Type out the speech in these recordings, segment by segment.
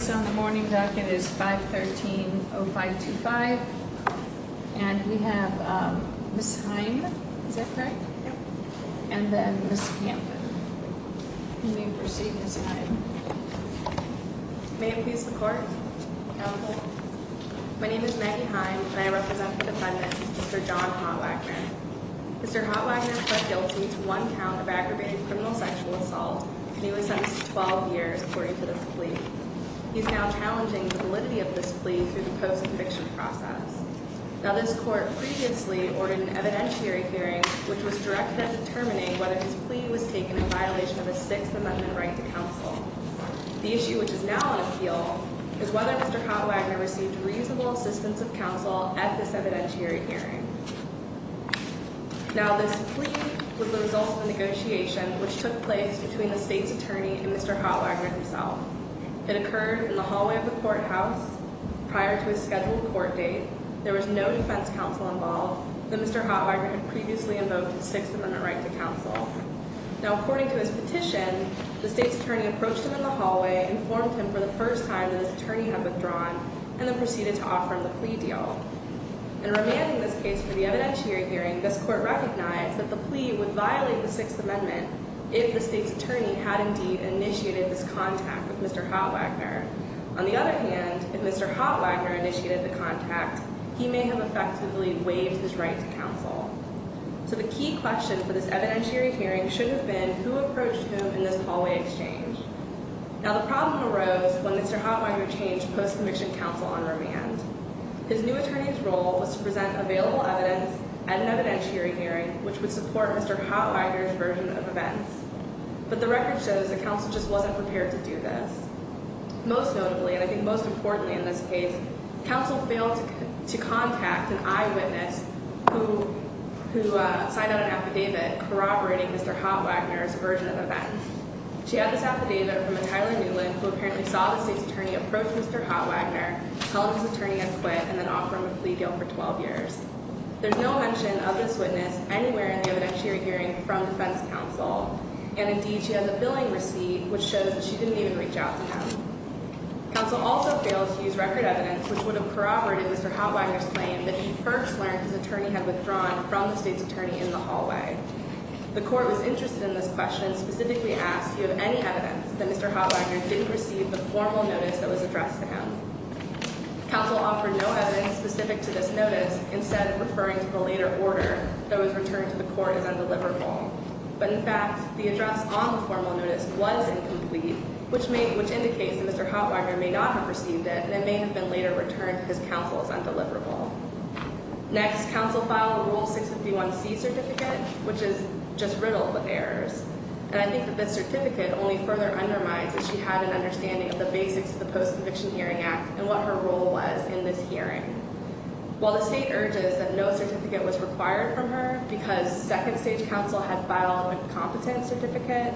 So the morning docket is 513-0525 and we have Ms. Hine, is that correct? Yep. And then Ms. Campin. You may proceed, Ms. Hine. May it please the court. Counsel. My name is Maggie Hine and I represent the defendant, Mr. John Hotwagner. Mr. Hotwagner pled guilty to one count of aggravated criminal sexual assault and he was sentenced to 12 years according to this plea. He is now challenging the validity of this plea through the post-conviction process. Now this court previously ordered an evidentiary hearing which was directed at determining whether his plea was taken in violation of a Sixth Amendment right to counsel. The issue which is now on appeal is whether Mr. Hotwagner received reasonable assistance of counsel at this evidentiary hearing. Now this plea was the result of a negotiation which took place between the state's attorney and Mr. Hotwagner himself. It occurred in the hallway of the courthouse prior to a scheduled court date. There was no defense counsel involved. Mr. Hotwagner had previously invoked the Sixth Amendment right to counsel. Now according to his petition, the state's attorney approached him in the hallway, informed him for the first time that his attorney had withdrawn, and then proceeded to offer him the plea deal. In remanding this case for the evidentiary hearing, this court recognized that the plea would violate the Sixth Amendment if the state's attorney had indeed initiated this contact with Mr. Hotwagner. On the other hand, if Mr. Hotwagner initiated the contact, he may have effectively waived his right to counsel. So the key question for this evidentiary hearing should have been who approached whom in this hallway exchange. Now the problem arose when Mr. Hotwagner changed post-conviction counsel on remand. His new attorney's role was to present available evidence at an evidentiary hearing which would support Mr. Hotwagner's version of events. But the record shows that counsel just wasn't prepared to do this. Most notably, and I think most importantly in this case, counsel failed to contact an eyewitness who signed out an affidavit corroborating Mr. Hotwagner's version of events. She had this affidavit from a Tyler Newland who apparently saw the state's attorney approach Mr. Hotwagner, tell him his attorney had quit, and then offer him a plea deal for 12 years. There's no mention of this witness anywhere in the evidentiary hearing from defense counsel. And indeed, she has a billing receipt which shows that she didn't even reach out to him. Counsel also failed to use record evidence which would have corroborated Mr. Hotwagner's claim that he first learned his attorney had withdrawn from the state's attorney in the hallway. The court was interested in this question and specifically asked, do you have any evidence that Mr. Hotwagner didn't receive the formal notice that was addressed to him? Counsel offered no evidence specific to this notice, instead referring to the later order that was returned to the court as undeliverable. But in fact, the address on the formal notice was incomplete, which indicates that Mr. Hotwagner may not have received it, and it may have been later returned because counsel is undeliverable. Next, counsel filed a Rule 651C certificate, which is just riddled with errors. And I think that this certificate only further undermines that she had an understanding of the basics of the Post-Conviction Hearing Act and what her role was in this hearing. While the state urges that no certificate was required from her because second stage counsel had filed an incompetent certificate,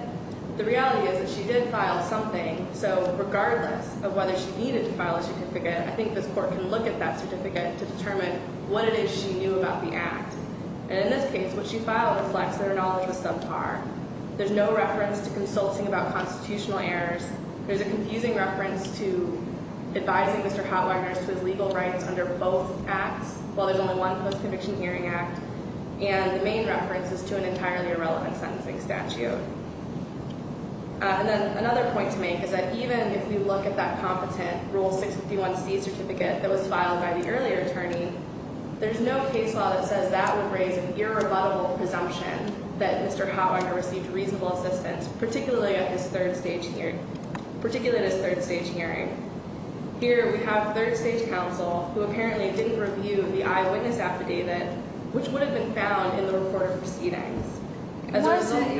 the reality is that she did file something. So regardless of whether she needed to file a certificate, I think this court can look at that certificate to determine what it is she knew about the act. And in this case, what she filed reflects that her knowledge was subpar. There's no reference to consulting about constitutional errors. There's a confusing reference to advising Mr. Hotwagner to his legal rights under both acts, while there's only one Post-Conviction Hearing Act. And the main reference is to an entirely irrelevant sentencing statute. And then another point to make is that even if you look at that competent Rule 651C certificate that was filed by the earlier attorney, there's no case law that says that would raise an irrebuttable presumption that Mr. Hotwagner received reasonable assistance, particularly at his third stage hearing. Here we have third stage counsel who apparently didn't review the eyewitness affidavit, which would have been found in the recorded proceedings. It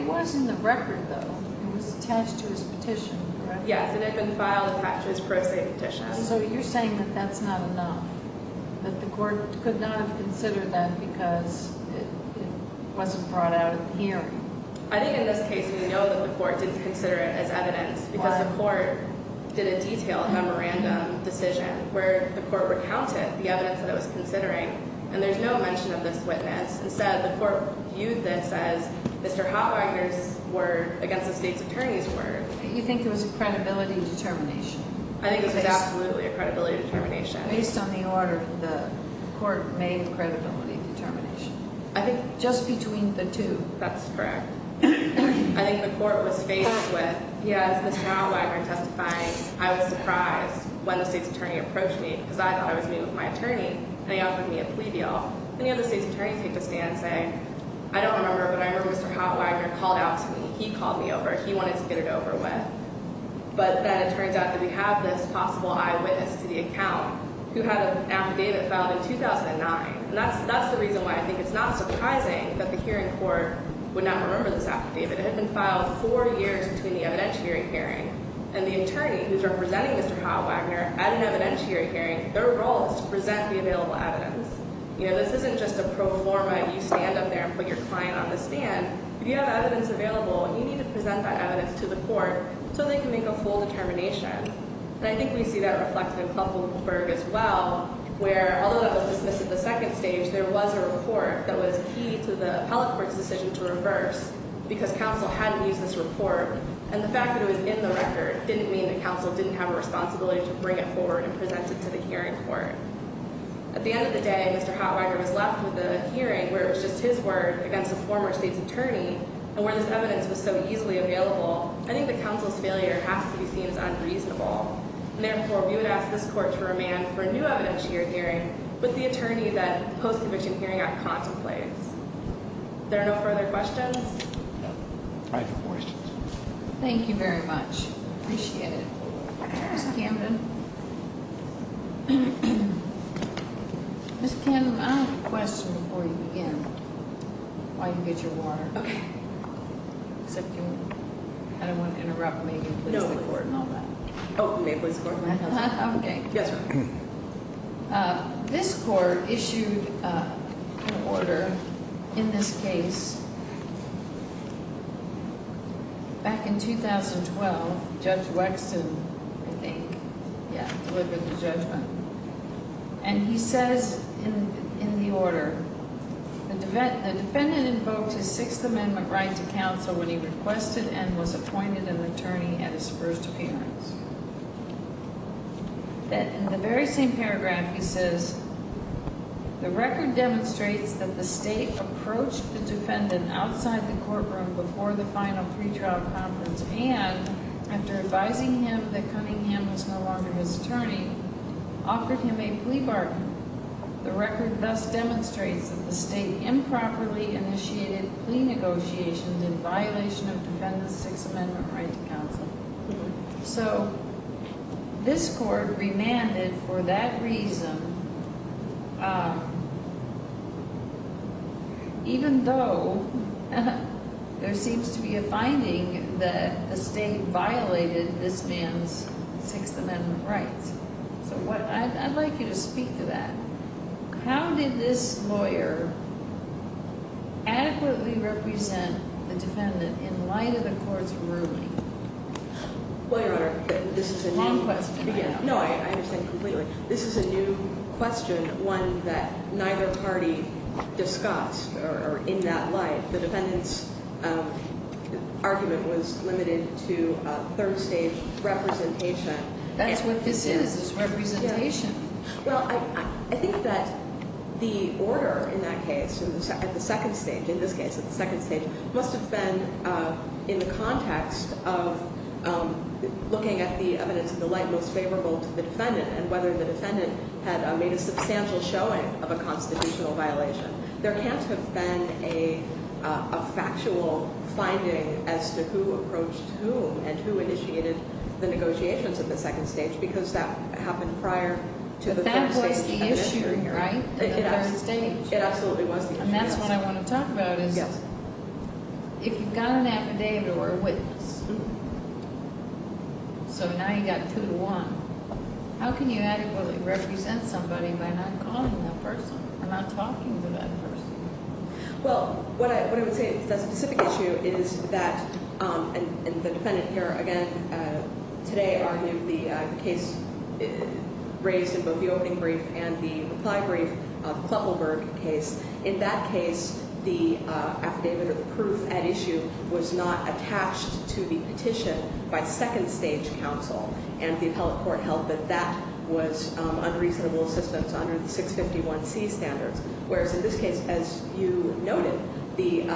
was in the record, though. It was attached to his petition, correct? Yes, it had been filed attached to his pro se petition. So you're saying that that's not enough, that the court could not have considered that because it wasn't brought out at the hearing? I think in this case we know that the court didn't consider it as evidence because the court did a detailed memorandum decision where the court recounted the evidence that it was considering, and there's no mention of this witness. Instead, the court viewed this as Mr. Hotwagner's word against the state's attorney's word. You think it was a credibility determination? I think it was absolutely a credibility determination. Based on the order, the court made a credibility determination. I think just between the two. That's correct. I think the court was faced with, as Mr. Hotwagner testified, I was surprised when the state's attorney approached me because I thought I was meeting with my attorney, and he offered me a plea deal. Then the state's attorney took a stand saying, I don't remember, but I remember Mr. Hotwagner called out to me. He called me over. He wanted to get it over with. But then it turns out that we have this possible eyewitness to the account who had an affidavit filed in 2009. That's the reason why I think it's not surprising that the hearing court would not remember this affidavit. It had been filed four years between the evidentiary hearing and the attorney who's representing Mr. Hotwagner at an evidentiary hearing, their role is to present the available evidence. This isn't just a pro forma, you stand up there and put your client on the stand. If you have evidence available, you need to present that evidence to the court so they can make a full determination. I think we see that reflected in Klugelberg as well, where although that was dismissed at the second stage, there was a report that was key to the appellate court's decision to reverse because counsel hadn't used this report. The fact that it was in the record didn't mean that counsel didn't have a responsibility to bring it forward and present it to the hearing court. At the end of the day, Mr. Hotwagner was left with a hearing where it was just his word against a former state's attorney, and where this evidence was so easily available, I think that counsel's failure has to be seen as unreasonable. Therefore, we would ask this court to remand for a new evidentiary hearing with the attorney that the Post-Conviction Hearing Act contemplates. Are there no further questions? No. I have no questions. Thank you very much. I appreciate it. Ms. Camden? Ms. Camden, I have a question before you begin, while you get your water. Okay. Except you kind of want to interrupt me and please the court and all that. No. Oh, may I please the court? Okay. Yes, ma'am. This court issued an order in this case. Back in 2012, Judge Wexton, I think, delivered the judgment. He says in the order, the defendant invoked his Sixth Amendment right to counsel when he requested and was appointed an attorney at his first appearance. In the very same paragraph, he says, the record demonstrates that the state approached the defendant outside the courtroom before the final pretrial conference and, after advising him that Cunningham was no longer his attorney, offered him a plea bargain. The record thus demonstrates that the state improperly initiated plea negotiations in violation of the defendant's Sixth Amendment right to counsel. So this court remanded for that reason, even though there seems to be a finding that the state violated this man's Sixth Amendment rights. So I'd like you to speak to that. How did this lawyer adequately represent the defendant in light of the court's ruling? Well, Your Honor, this is a new— Long question. No, I understand completely. This is a new question, one that neither party discussed in that light. The defendant's argument was limited to third-stage representation. That's what this is, is representation. Well, I think that the order in that case, at the second stage, in this case at the second stage, must have been in the context of looking at the evidence in the light most favorable to the defendant and whether the defendant had made a substantial showing of a constitutional violation. There can't have been a factual finding as to who approached whom and who initiated the negotiations at the second stage because that happened prior to the first stage. But that was the issue, right, at the first stage? It absolutely was the issue. And that's what I want to talk about, is if you've got an affidavit or a witness, so now you've got two to one, how can you adequately represent somebody by not calling that person, not talking to that person? Well, what I would say, the specific issue is that, and the defendant here, again, today argued the case raised in both the opening brief and the reply brief, the Kleppelberg case. In that case, the affidavit of proof at issue was not attached to the petition by second stage counsel, and the appellate court held that that was unreasonable assistance under the 651C standards, whereas in this case, as you noted, the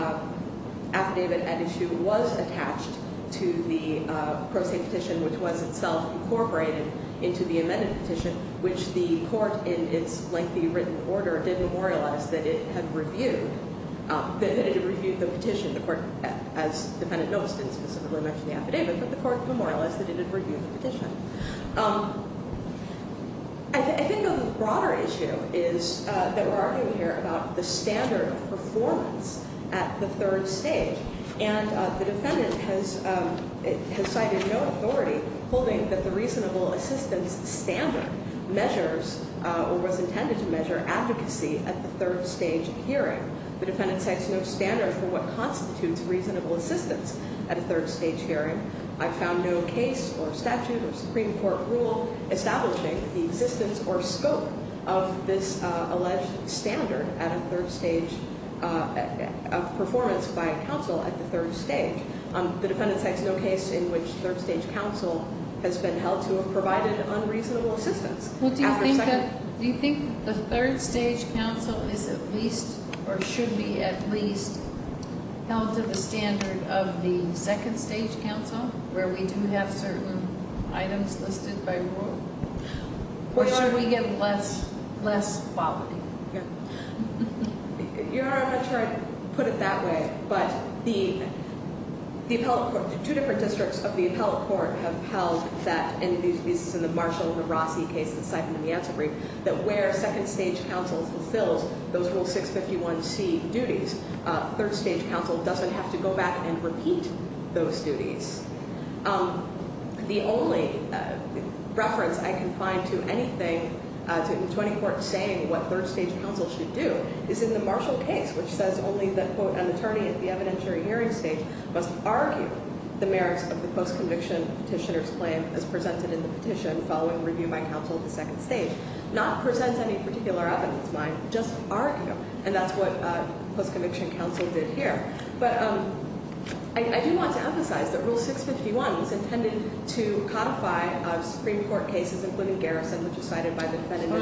affidavit at issue was attached to the pro se petition, which was itself incorporated into the amended petition, which the court in its lengthy written order did memorialize that it had reviewed the petition. The court, as the defendant noticed, didn't specifically mention the affidavit, but the court memorialized that it had reviewed the petition. I think a broader issue is that we're arguing here about the standard of performance at the third stage, and the defendant has cited no authority holding that the reasonable assistance standard measures or was intended to measure advocacy at the third stage hearing. The defendant cites no standard for what constitutes reasonable assistance at a third stage hearing. I found no case or statute or Supreme Court rule establishing the existence or scope of this alleged standard of performance by counsel at the third stage. The defendant cites no case in which third stage counsel has been held to have provided unreasonable assistance. Do you think the third stage counsel is at least or should be at least held to the standard of the second stage counsel, where we do have certain items listed by rule, or should we get less quality? Your Honor, I'm not sure I'd put it that way, but the appellate court, two different districts of the appellate court have held that, and this is in the Marshall v. Rossi case that's cited in the answer brief, that where second stage counsel fulfills those rule 651C duties, third stage counsel doesn't have to go back and repeat those duties. The only reference I can find to anything in the 20 court saying what third stage counsel should do is in the Marshall case, which says only that, quote, an attorney at the evidentiary hearing stage must argue the merits of the post-conviction petitioner's claim as presented in the petition following review by counsel at the second stage, not present any particular evidence, just argue, and that's what post-conviction counsel did here. But I do want to emphasize that Rule 651 was intended to codify Supreme Court cases, including Garrison, which is cited by the defendant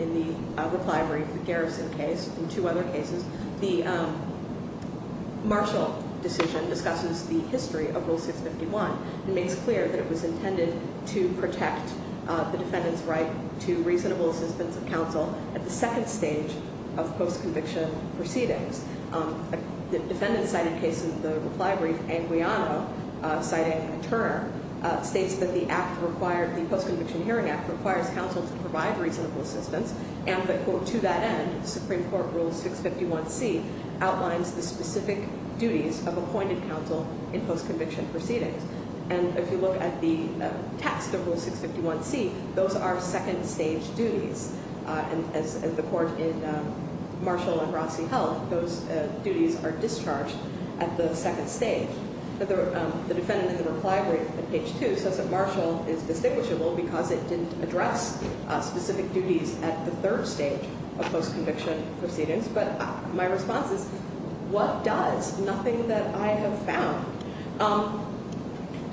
in the reply brief, the Garrison case, and two other cases. The Marshall decision discusses the history of Rule 651 and makes clear that it was intended to protect the defendant's right to reasonable assistance of counsel at the second stage of post-conviction proceedings. The defendant cited case in the reply brief, Anguiano, citing Turner, states that the act required, the post-conviction hearing act, requires counsel to provide reasonable assistance, and to that end, Supreme Court Rule 651C outlines the specific duties of appointed counsel in post-conviction proceedings. And if you look at the text of Rule 651C, those are second stage duties. And as the court in Marshall and Rossi held, those duties are discharged at the second stage. The defendant in the reply brief at page 2 says that Marshall is distinguishable because it didn't address specific duties at the third stage of post-conviction proceedings. But my response is, what does? Nothing that I have found.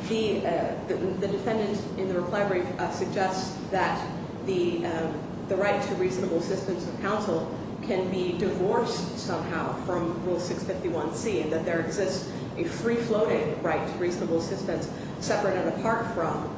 The defendant in the reply brief suggests that the right to reasonable assistance of counsel can be divorced somehow from Rule 651C, and that there exists a free-floating right to reasonable assistance separate and apart from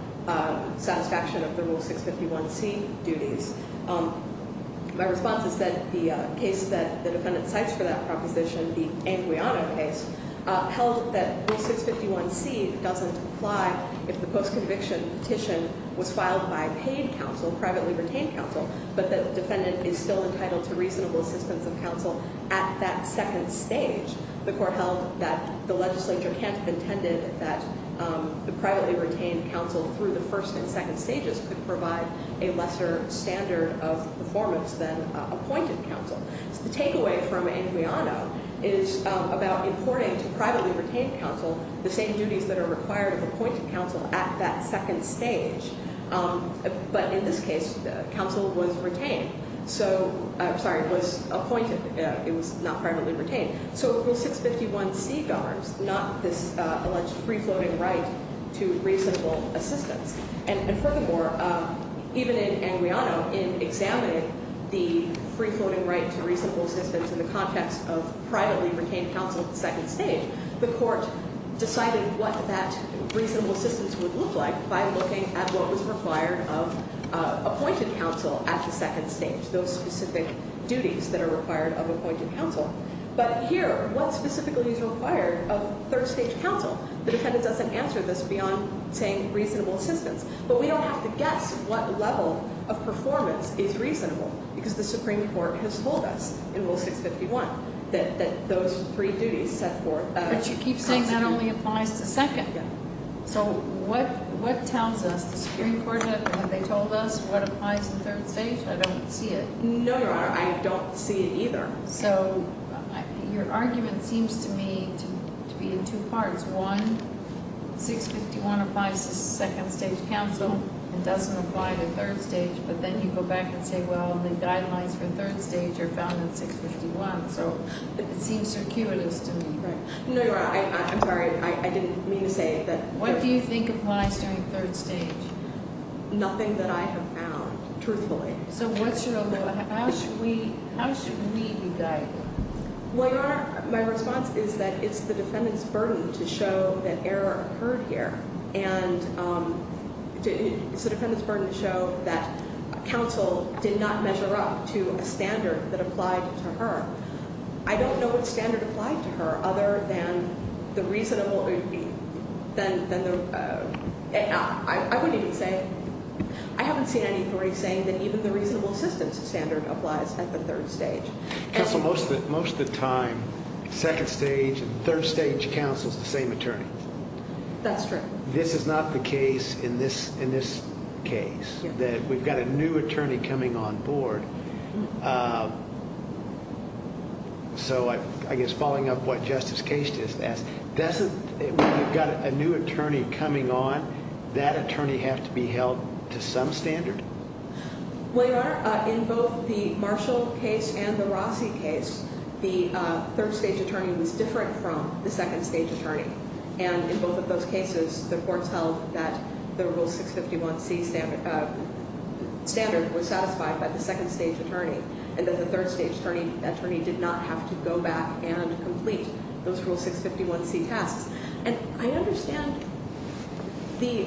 satisfaction of the Rule 651C duties. My response is that the case that the defendant cites for that proposition, the Anguiano case, held that Rule 651C doesn't apply if the post-conviction petition was filed by paid counsel, privately retained counsel, but the defendant is still entitled to reasonable assistance of counsel at that second stage. The court held that the legislature can't have intended that the privately retained counsel through the first and second stages could provide a lesser standard of performance than appointed counsel. So the takeaway from Anguiano is about importing to privately retained counsel the same duties that are required of appointed counsel at that second stage. But in this case, counsel was retained. So, I'm sorry, was appointed. It was not privately retained. So Rule 651C governs not this alleged free-floating right to reasonable assistance. And furthermore, even in Anguiano, in examining the free-floating right to reasonable assistance in the context of privately retained counsel at the second stage, the court decided what that reasonable assistance would look like by looking at what was required of appointed counsel at the second stage, those specific duties that are required of appointed counsel. But here, what specifically is required of third-stage counsel? The defendant doesn't answer this beyond saying reasonable assistance. But we don't have to guess what level of performance is reasonable because the Supreme Court has told us in Rule 651 that those three duties set forth. But you keep saying that only applies to second. Yeah. So what tells us? The Supreme Court, have they told us what applies to third stage? I don't see it. No, Your Honor. I don't see it either. So your argument seems to me to be in two parts. One, 651 applies to second-stage counsel and doesn't apply to third stage. But then you go back and say, well, the guidelines for third stage are found in 651. So it seems circuitous to me. No, Your Honor. I'm sorry. I didn't mean to say that. What do you think applies during third stage? Nothing that I have found, truthfully. Okay. So what's your argument? How should we be guided? Well, Your Honor, my response is that it's the defendant's burden to show that error occurred here. And it's the defendant's burden to show that counsel did not measure up to a standard that applied to her. I don't know what standard applied to her other than the reasonable – I wouldn't even say – I haven't seen any authority saying that even the reasonable assistance standard applies at the third stage. Counsel, most of the time, second-stage and third-stage counsel is the same attorney. That's true. This is not the case in this case, that we've got a new attorney coming on board. So I guess following up what Justice Case just asked, when you've got a new attorney coming on, that attorney has to be held to some standard? Well, Your Honor, in both the Marshall case and the Rossi case, the third-stage attorney was different from the second-stage attorney. And in both of those cases, the courts held that the Rule 651C standard was satisfied by the second-stage attorney. And that the third-stage attorney did not have to go back and complete those Rule 651C tasks. And I understand the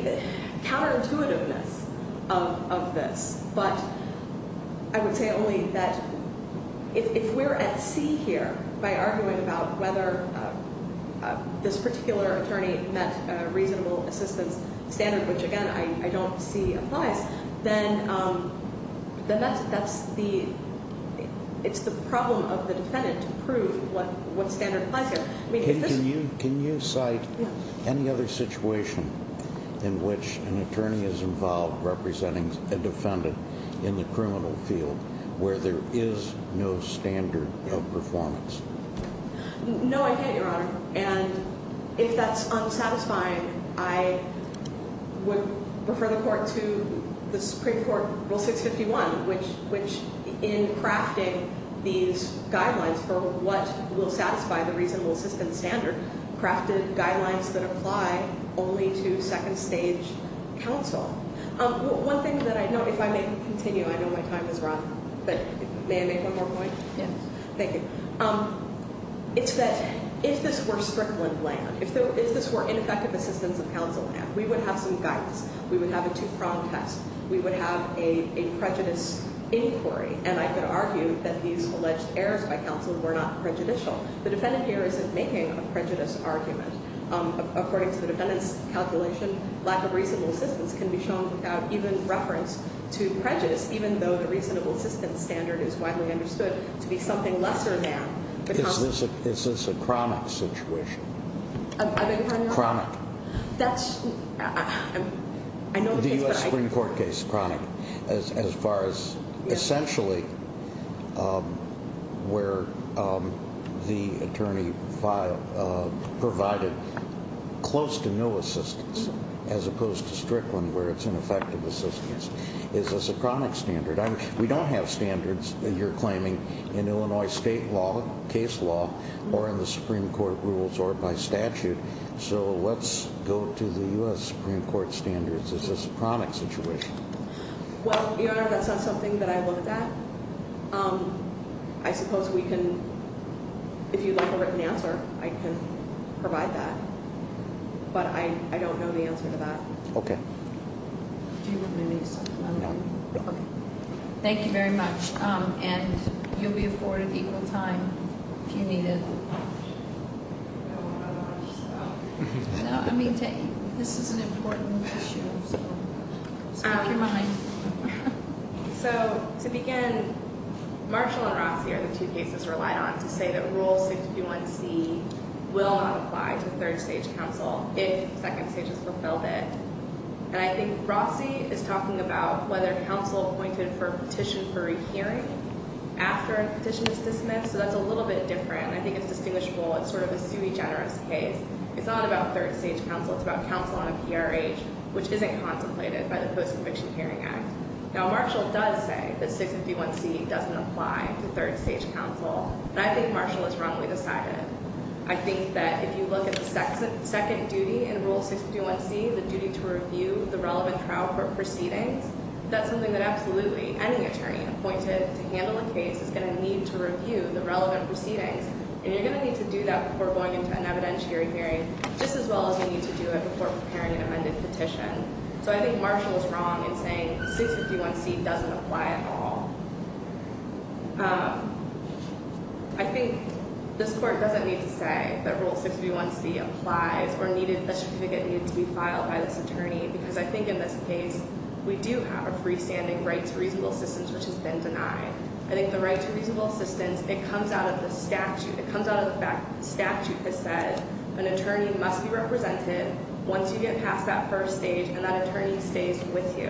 counterintuitiveness of this. But I would say only that if we're at sea here by arguing about whether this particular attorney met a reasonable assistance standard, which, again, I don't see applies, then it's the problem of the defendant to prove what standard applies here. Can you cite any other situation in which an attorney is involved representing a defendant in the criminal field where there is no standard of performance? No, I can't, Your Honor. And if that's unsatisfying, I would refer the Court to the Supreme Court Rule 651, which, in crafting these guidelines for what will satisfy the reasonable assistance standard, crafted guidelines that apply only to second-stage counsel. One thing that I know, if I may continue, I know my time has run, but may I make one more point? Yes. Thank you. It's that if this were strickland land, if this were ineffective assistance of counsel land, we would have some guidance. We would have a two-prong test. We would have a prejudice inquiry. And I could argue that these alleged errors by counsel were not prejudicial. The defendant here isn't making a prejudice argument. According to the defendant's calculation, lack of reasonable assistance can be shown without even reference to prejudice, even though the reasonable assistance standard is widely understood to be something lesser than. Is this a chronic situation? I beg your pardon, Your Honor? Chronic. That's, I know the case, but I. The U.S. Supreme Court case, chronic, as far as essentially where the attorney provided close to no assistance, as opposed to strickland, where it's ineffective assistance. Is this a chronic standard? We don't have standards that you're claiming in Illinois state law, case law, or in the Supreme Court rules or by statute. So let's go to the U.S. Supreme Court standards. Is this a chronic situation? Well, Your Honor, that's not something that I look at. I suppose we can, if you'd like a written answer, I can provide that. But I don't know the answer to that. Okay. Do you have any supplementary? No. Okay. Thank you very much. And you'll be afforded equal time if you need it. No, I don't have much, so. No, I mean, this is an important issue, so. So keep your money. So to begin, Marshall and Rossi are the two cases relied on to say that Rule 631C will not apply to third stage counsel if second stage has fulfilled it. And I think Rossi is talking about whether counsel appointed for a petition for a hearing after a petition is dismissed. So that's a little bit different. I think it's distinguishable. It's sort of a sui generis case. It's not about third stage counsel. It's about counsel on a PRH, which isn't contemplated by the Post-Conviction Hearing Act. Now, Marshall does say that 651C doesn't apply to third stage counsel. And I think Marshall is wrongly decided. I think that if you look at the second duty in Rule 651C, the duty to review the relevant trial court proceedings, that's something that absolutely any attorney appointed to handle a case is going to need to review the relevant proceedings. And you're going to need to do that before going into an evidentiary hearing, just as well as you need to do it before preparing an amended petition. So I think Marshall is wrong in saying 651C doesn't apply at all. I think this court doesn't need to say that Rule 651C applies or needed a certificate needed to be filed by this attorney, because I think in this case we do have a freestanding right to reasonable assistance, which has been denied. I think the right to reasonable assistance, it comes out of the statute. It comes out of the fact that the statute has said an attorney must be represented once you get past that first stage, and that attorney stays with you.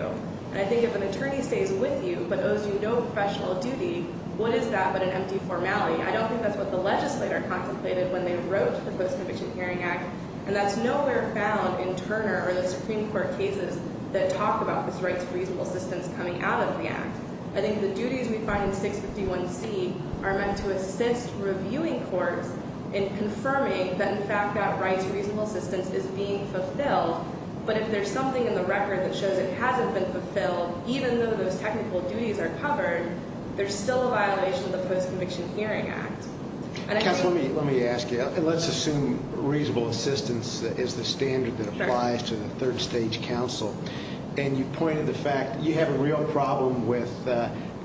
And I think if an attorney stays with you but owes you no professional duty, what is that but an empty formality? I don't think that's what the legislator contemplated when they wrote the Post-Conviction Hearing Act, and that's nowhere found in Turner or the Supreme Court cases that talk about this right to reasonable assistance coming out of the Act. I think the duties we find in 651C are meant to assist reviewing courts in confirming that, in fact, that right to reasonable assistance is being fulfilled, but if there's something in the record that shows it hasn't been fulfilled, even though those technical duties are covered, there's still a violation of the Post-Conviction Hearing Act. Let me ask you. Let's assume reasonable assistance is the standard that applies to the third stage counsel, and you pointed to the fact you have a real problem with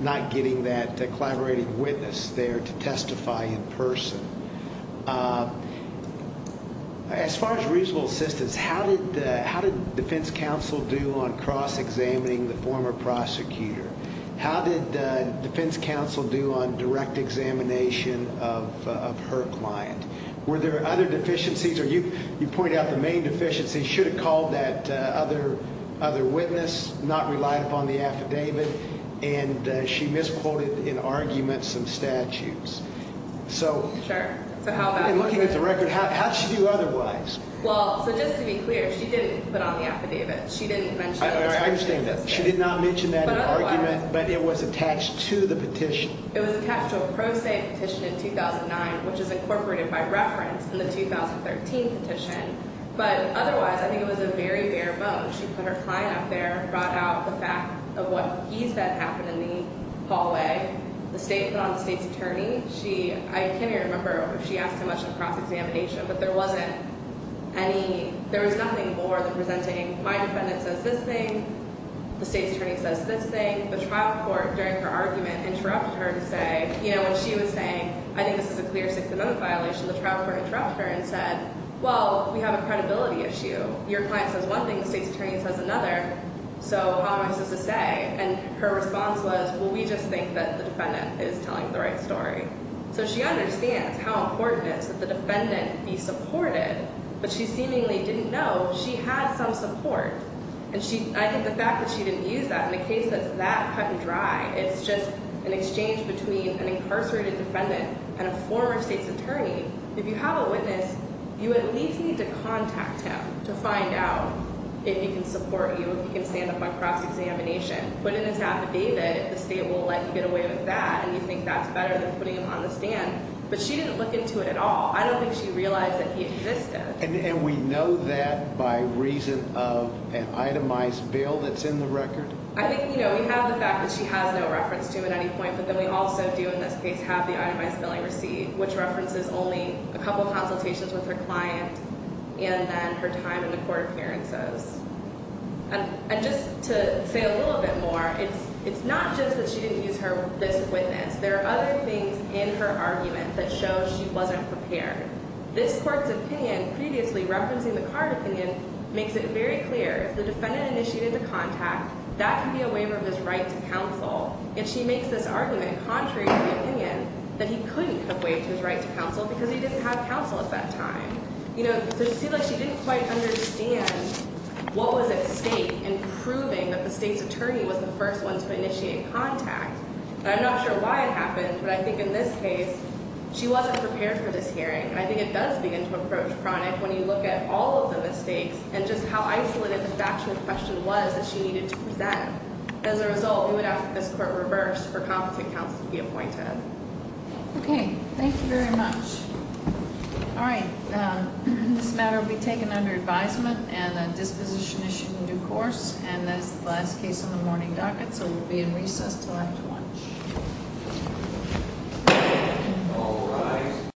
not getting that collaborating witness there to testify in person. As far as reasonable assistance, how did defense counsel do on cross-examining the former prosecutor? How did defense counsel do on direct examination of her client? Were there other deficiencies, or you pointed out the main deficiency, should have called that other witness, not relied upon the affidavit, and she misquoted in argument some statutes. Sure. Looking at the record, how did she do otherwise? Well, so just to be clear, she didn't put on the affidavit. She didn't mention that. I understand that. She did not mention that in argument, but it was attached to the petition. It was attached to a pro se petition in 2009, which is incorporated by reference in the 2013 petition, but otherwise I think it was a very bare bone. She put her client up there, brought out the fact of what he said happened in the hallway. The state put on the state's attorney. I can't even remember if she asked how much of a cross-examination, but there wasn't any. There was nothing more than presenting my defendant says this thing, the state's attorney says this thing. The trial court, during her argument, interrupted her to say, you know, when she was saying, I think this is a clear sixth amendment violation, the trial court interrupted her and said, well, we have a credibility issue. Your client says one thing, the state's attorney says another, so how am I supposed to say? And her response was, well, we just think that the defendant is telling the right story. So she understands how important it is that the defendant be supported, but she seemingly didn't know she had some support. And I think the fact that she didn't use that in a case that's that cut and dry, it's just an exchange between an incarcerated defendant and a former state's attorney. If you have a witness, you at least need to contact him to find out if he can support you, if he can stand up on cross-examination. Putting this out to David, the state will likely get away with that, and you think that's better than putting him on the stand. But she didn't look into it at all. I don't think she realized that he existed. And we know that by reason of an itemized bill that's in the record? I think, you know, we have the fact that she has no reference to him at any point, but then we also do in this case have the itemized billing receipt, which references only a couple consultations with her client and then her time in the court appearances. And just to say a little bit more, it's not just that she didn't use this witness. There are other things in her argument that show she wasn't prepared. This court's opinion previously referencing the card opinion makes it very clear. The defendant initiated the contact. That can be a waiver of his right to counsel. And she makes this argument contrary to the opinion that he couldn't have waived his right to counsel because he didn't have counsel at that time. You know, so it seems like she didn't quite understand what was at stake in proving that the state's attorney was the first one to initiate contact. And I'm not sure why it happened, but I think in this case she wasn't prepared for this hearing. And I think it does begin to approach chronic when you look at all of the mistakes and just how isolated the factual question was that she needed to present. As a result, we would ask that this court reverse for competent counsel to be appointed. Okay. Thank you very much. All right. This matter will be taken under advisement and a disposition issued in due course. And that is the last case on the morning docket, so we'll be in recess until after lunch.